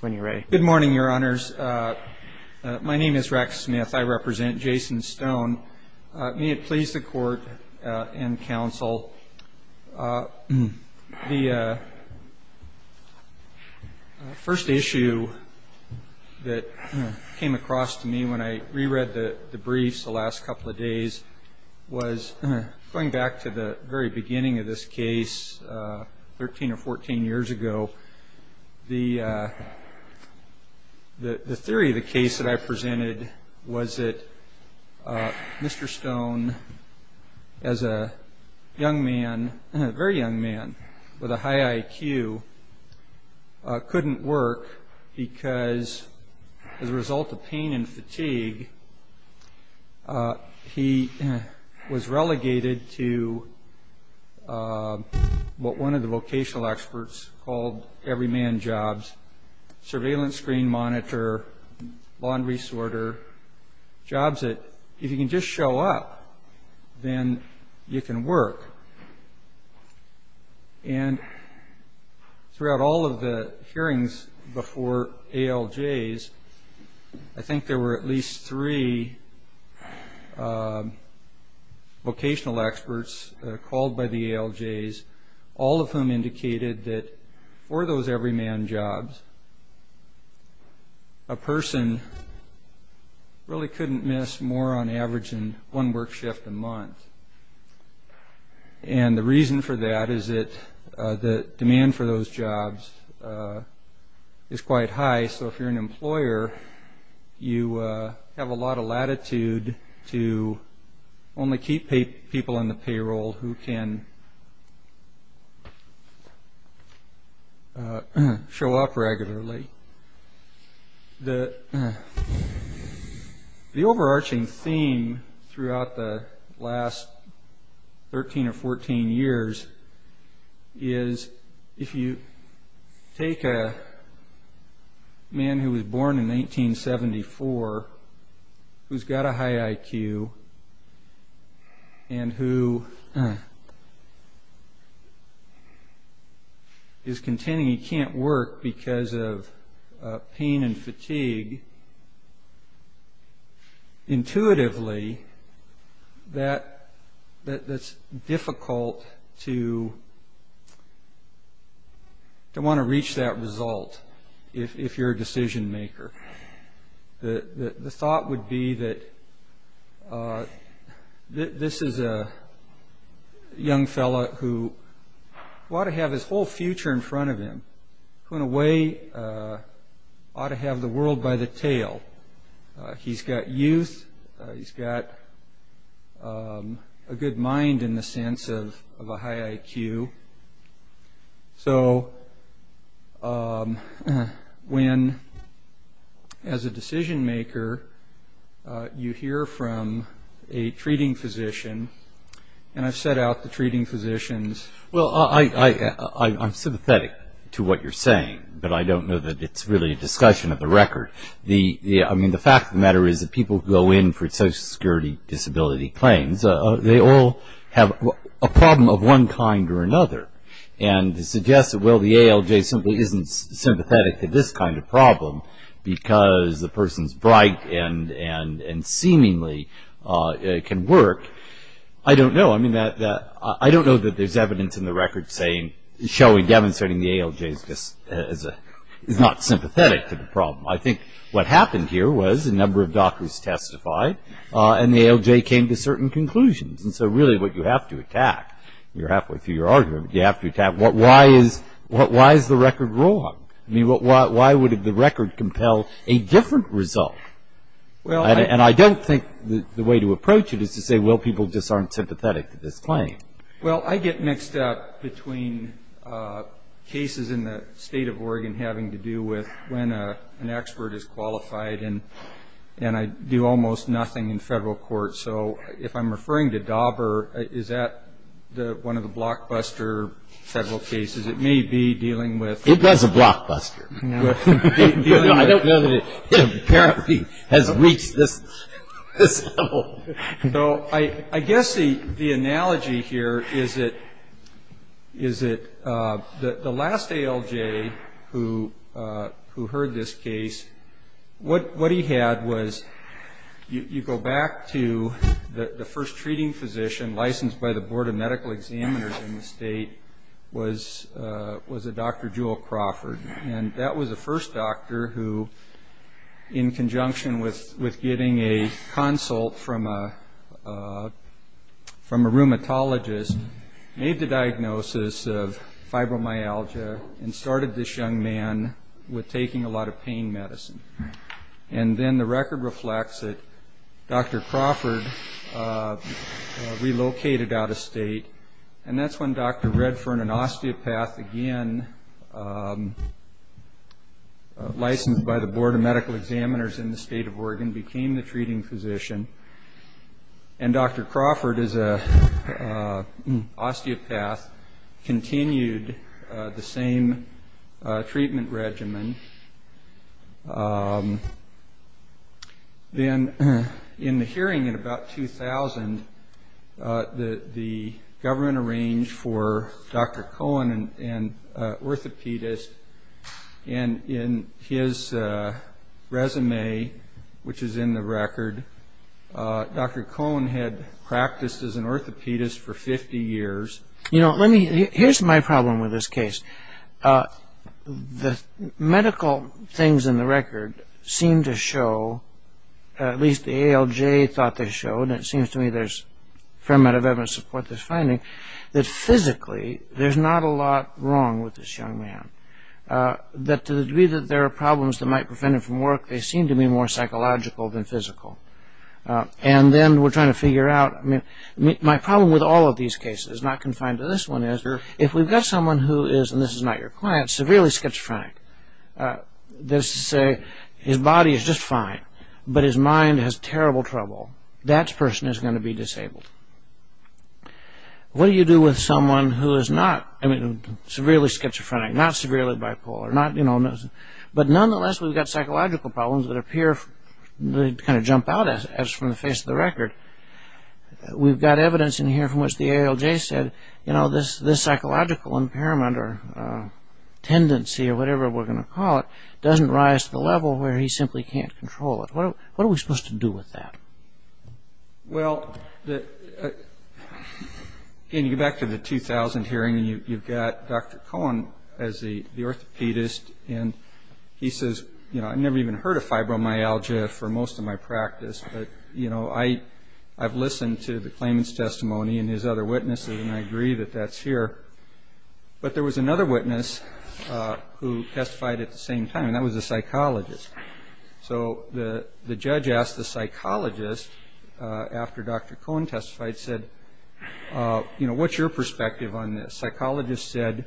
When you're ready. Good morning, Your Honors. My name is Rex Smith. I represent Jason Stone. May it please the Court and Counsel, the first issue that came across to me when I reread the briefs the last couple of days was going back to the very beginning of this case 13 or 14 years ago. The theory of the case that I presented was that Mr. Stone, as a young man, a very young man, with a high IQ, couldn't work because as a result of pain and fatigue he was relegated to what one of the vocational experts called every man jobs, surveillance screen monitor, laundry sorter, jobs that if you can just show up, then you can work. And throughout all of the hearings before ALJs, I think there were at least three vocational experts called by the ALJs, all of whom indicated that for those every man jobs, a person really couldn't miss more on average than one work shift a month. And the reason for that is that the demand for those jobs is quite high, so if you're an employer, you have a lot of latitude to only keep people in the payroll who can show up regularly. But the overarching theme throughout the last 13 or 14 years is if you take a man who was born in 1974, who's got a high IQ and who is continuing he can't work because of pain and fatigue, intuitively that's difficult to want to reach that result if you're a decision maker. The thought would be that this is a young fellow who ought to have his whole future in front of him, who in a way ought to have the world by the tail. He's got youth, he's got a good mind in the sense of a high IQ, so when as a decision maker you hear from a treating physician, and I've set out the treating physicians. Well, I'm sympathetic to what you're saying, but I don't know that it's really a discussion of the record. The fact of the matter is that people who go in for social security disability claims, they all have a problem of one kind or another. And to suggest that the ALJ simply isn't sympathetic to this kind of problem because the person's bright and seemingly can work, I don't know. I don't know that there's evidence in the record saying, showing, demonstrating the ALJ is not sympathetic to the problem. I think what happened here was a number of doctors testified and the ALJ came to certain conclusions. And so really what you have to attack, you're halfway through your argument, you have to attack why is the record wrong? Why would the record compel a different result? And I don't think the way to approach it is to say, well, people just aren't sympathetic to this claim. Well, I get mixed up between cases in the state of Oregon having to do with when an expert is qualified, and I do almost nothing in federal court. So if I'm referring to Dauber, is that one of the blockbuster federal cases? It may be dealing with- It was a blockbuster. No, I don't know that it apparently has reached this level. So I guess the analogy here is that the last ALJ who heard this case, what he had was you go back to the first treating physician licensed by the Board of Medical Examiners in the state was a Dr. Jewel Crawford. And that was the first doctor who, in conjunction with getting a consult from a rheumatologist, made the diagnosis of fibromyalgia and started this young man with taking a lot of pain medicine. And then the record reflects that Dr. Crawford relocated out of state. And that's when Dr. Redfern, an osteopath, again licensed by the Board of Medical Examiners in the state of Oregon, became the treating physician. And Dr. Crawford, as an osteopath, continued the same treatment regimen. Then in the hearing in about 2000, the government arranged for Dr. Cohen, an orthopedist, and in his resume, which is in the record, Dr. Cohen had practiced as an orthopedist for 50 years. Here's my problem with this case. The medical things in the record seem to show, at least the ALJ thought they showed, and it seems to me there's a fair amount of evidence to support this finding, that physically there's not a lot wrong with this young man. That to the degree that there are problems that might prevent him from work, they seem to be more psychological than physical. And then we're trying to figure out, I mean, my problem with all of these cases, not confined to this one is, if we've got someone who is, and this is not your client, severely schizophrenic, that is to say, his body is just fine, but his mind has terrible trouble, that person is going to be disabled. What do you do with someone who is not, I mean, severely schizophrenic, not severely bipolar, but nonetheless we've got psychological problems that appear to kind of jump out at us from the face of the record. We've got evidence in here from which the ALJ said, you know, this psychological impairment or tendency, or whatever we're going to call it, doesn't rise to the level where he simply can't control it. What are we supposed to do with that? Well, again, you go back to the 2000 hearing, and you've got Dr. Cohen as the orthopedist, and he says, you know, I've never even heard of fibromyalgia for most of my practice, but, you know, I've listened to the claimant's testimony and his other witnesses, and I agree that that's here. But there was another witness who testified at the same time, and that was a psychologist. So the judge asked the psychologist, after Dr. Cohen testified, said, you know, what's your perspective on this? The psychologist said,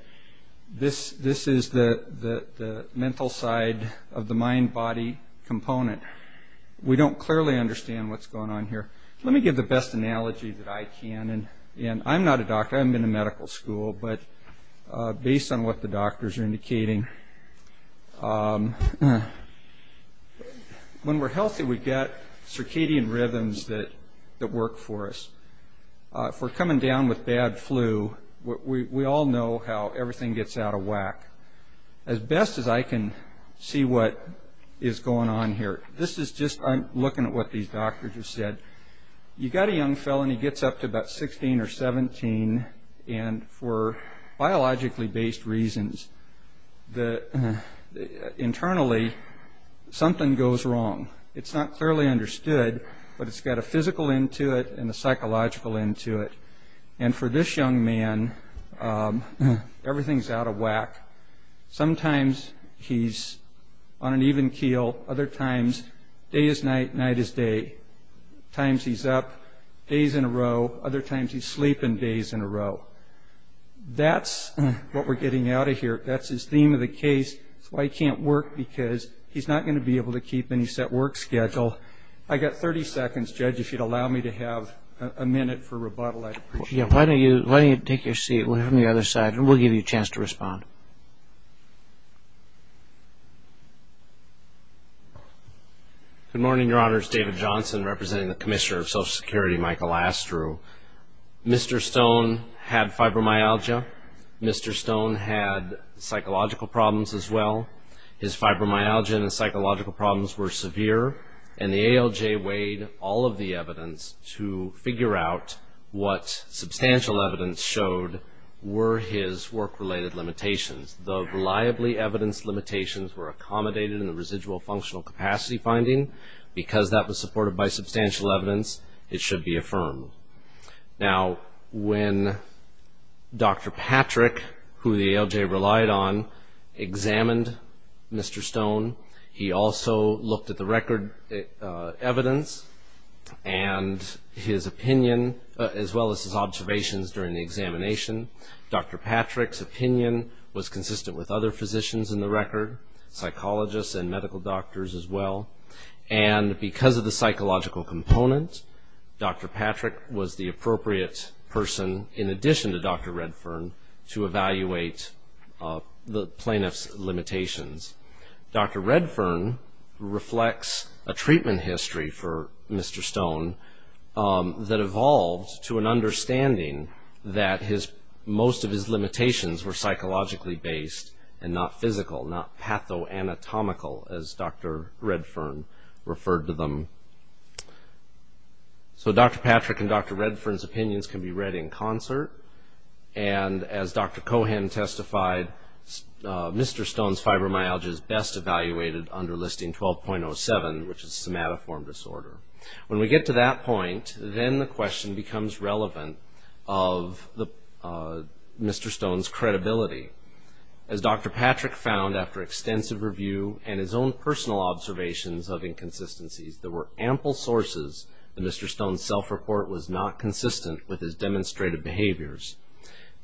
this is the mental side of the mind-body component. We don't clearly understand what's going on here. Let me give the best analogy that I can, and I'm not a doctor. I'm in a medical school, but based on what the doctors are indicating, when we're healthy, we get circadian rhythms that work for us. If we're coming down with bad flu, we all know how everything gets out of whack. As best as I can see what is going on here, this is just looking at what these doctors have said. You've got a young fellow, and he gets up to about 16 or 17, and for biologically-based reasons, internally, something goes wrong. It's not clearly understood, but it's got a physical end to it and a psychological end to it. And for this young man, everything's out of whack. Sometimes he's on an even keel. Other times, day is night, night is day. At times, he's up days in a row. Other times, he's sleeping days in a row. That's what we're getting out of here. That's his theme of the case. It's why he can't work, because he's not going to be able to keep any set work schedule. I've got 30 seconds. Judge, if you'd allow me to have a minute for rebuttal, I'd appreciate it. Why don't you take your seat? We'll have him on the other side, and we'll give you a chance to respond. Good morning, Your Honors. David Johnson, representing the Commissioner of Social Security, Michael Astru. Mr. Stone had fibromyalgia. Mr. Stone had psychological problems as well. His fibromyalgia and his psychological problems were severe, and the ALJ weighed all of the evidence to figure out what substantial evidence showed were his work-related limitations. The reliably evidenced limitations were accommodated in the residual functional capacity finding. Because that was supported by substantial evidence, it should be affirmed. Now, when Dr. Patrick, who the ALJ relied on, examined Mr. Stone, he also looked at the record evidence and his opinion, as well as his observations during the examination. Dr. Patrick's opinion was consistent with other physicians in the record, psychologists and medical doctors as well. And because of the psychological component, Dr. Patrick was the appropriate person, in addition to Dr. Redfern, to evaluate the plaintiff's limitations. Dr. Redfern reflects a treatment history for Mr. Stone that evolved to an understanding that most of his limitations were psychologically based and not physical, not patho-anatomical, as Dr. Redfern referred to them. So Dr. Patrick and Dr. Redfern's opinions can be read in concert. And as Dr. Cohan testified, Mr. Stone's fibromyalgia is best evaluated under listing 12.07, which is somatoform disorder. When we get to that point, then the question becomes relevant of Mr. Stone's credibility. As Dr. Patrick found after extensive review and his own personal observations of inconsistencies, there were ample sources that Mr. Stone's self-report was not consistent with his demonstrated behaviors.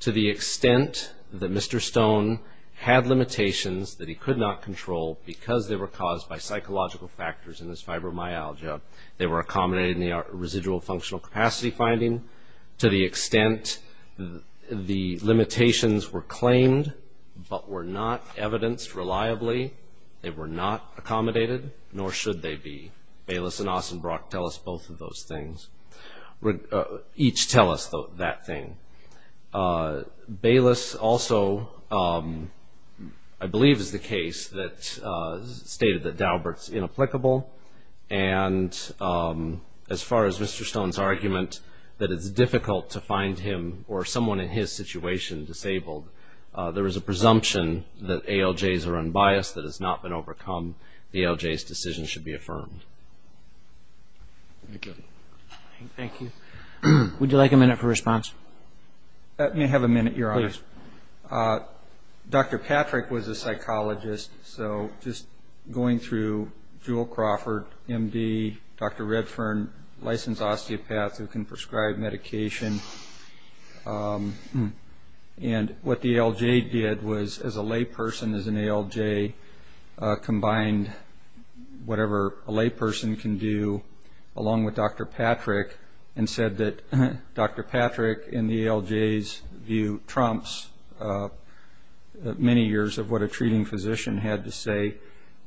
To the extent that Mr. Stone had limitations that he could not control because they were caused by psychological factors in his fibromyalgia, they were accommodated in the residual functional capacity finding. To the extent the limitations were claimed but were not evidenced reliably, they were not accommodated, nor should they be. Bayless and Ossenbrock tell us both of those things, each tell us that thing. Bayless also, I believe, is the case that stated that Daubert's inapplicable. And as far as Mr. Stone's argument that it's difficult to find him or someone in his situation disabled, there is a presumption that ALJs are unbiased, that has not been overcome, the ALJ's decision should be affirmed. Thank you. Thank you. Would you like a minute for response? Let me have a minute, Your Honor. Please. Dr. Patrick was a psychologist, so just going through Jewel Crawford, MD, Dr. Redfern, licensed osteopath who can prescribe medication, and what the ALJ did was as a layperson, as an ALJ, combined whatever a layperson can do along with Dr. Patrick and said that Dr. Patrick, in the ALJ's view, trumps many years of what a treating physician had to say.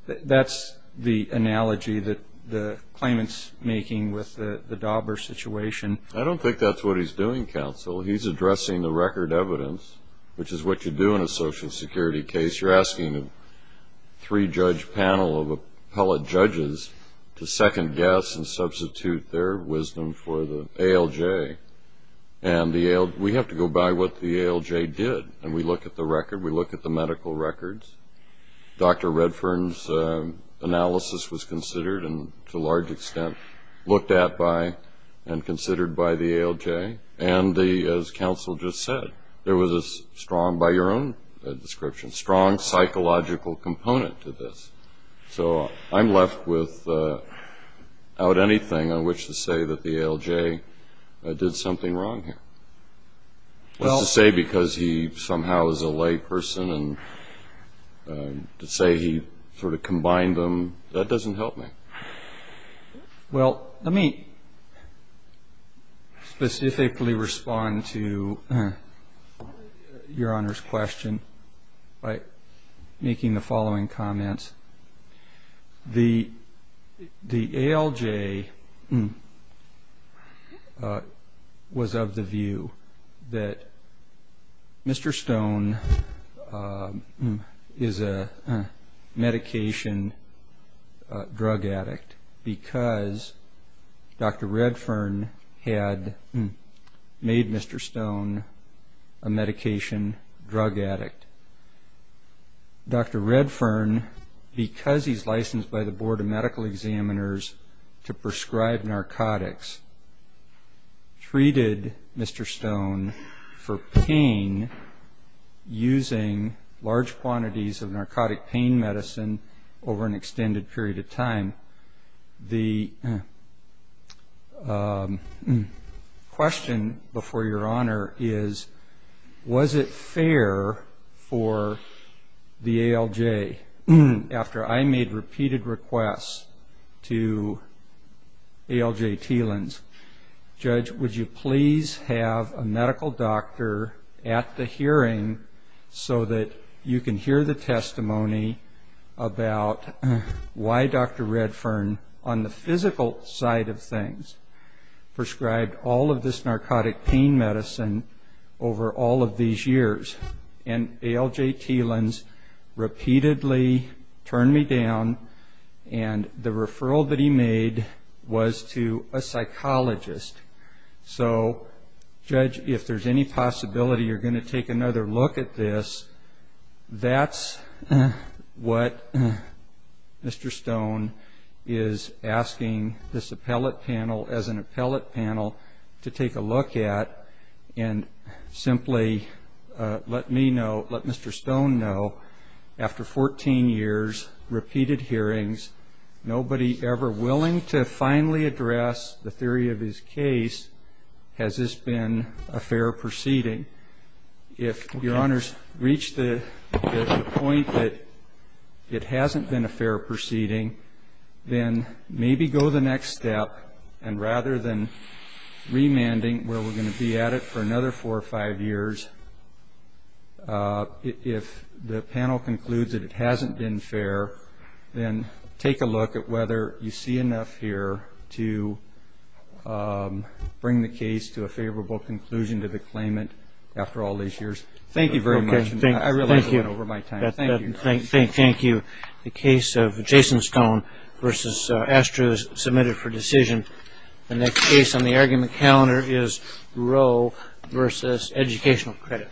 That's the analogy that the claimant's making with the Daubert situation. I don't think that's what he's doing, counsel. He's addressing the record evidence, which is what you do in a Social Security case. You're asking a three-judge panel of appellate judges to second-guess and substitute their wisdom for the ALJ. And we have to go by what the ALJ did, and we look at the record, we look at the medical records. Dr. Redfern's analysis was considered and, to a large extent, looked at by and considered by the ALJ. And as counsel just said, there was a strong, by your own description, strong psychological component to this. So I'm left without anything on which to say that the ALJ did something wrong here. What's to say because he somehow is a layperson and to say he sort of combined them, that doesn't help me. Well, let me specifically respond to Your Honor's question by making the following comments. The ALJ was of the view that Mr. Stone is a medication drug addict because Dr. Redfern had made Mr. Stone a medication drug addict. Dr. Redfern, because he's licensed by the Board of Medical Examiners to prescribe narcotics, treated Mr. Stone for pain using large quantities of narcotic pain medicine over an extended period of time. The question before Your Honor is, was it fair for the ALJ, after I made repeated requests to ALJ Teelans, Judge, would you please have a medical doctor at the hearing so that you can hear the testimony about why Dr. Redfern, on the physical side of things, prescribed all of this narcotic pain medicine over all of these years. And ALJ Teelans repeatedly turned me down and the referral that he made was to a psychologist. So, Judge, if there's any possibility you're going to take another look at this, that's what Mr. Stone is asking this appellate panel, as an appellate panel, to take a look at and simply let me know, let Mr. Stone know, after 14 years, repeated hearings, nobody ever willing to finally address the theory of his case, has this been a fair proceeding. If Your Honor's reached the point that it hasn't been a fair proceeding, then maybe go the next step, and rather than remanding, where we're going to be at it for another four or five years, if the panel concludes that it hasn't been fair, then take a look at whether you see enough here to bring the case to a favorable conclusion to the claimant after all these years. Thank you very much. I really have run over my time. Thank you. The case of Jason Stone versus Astro is submitted for decision. The next case on the argument calendar is Roe versus Educational Credit.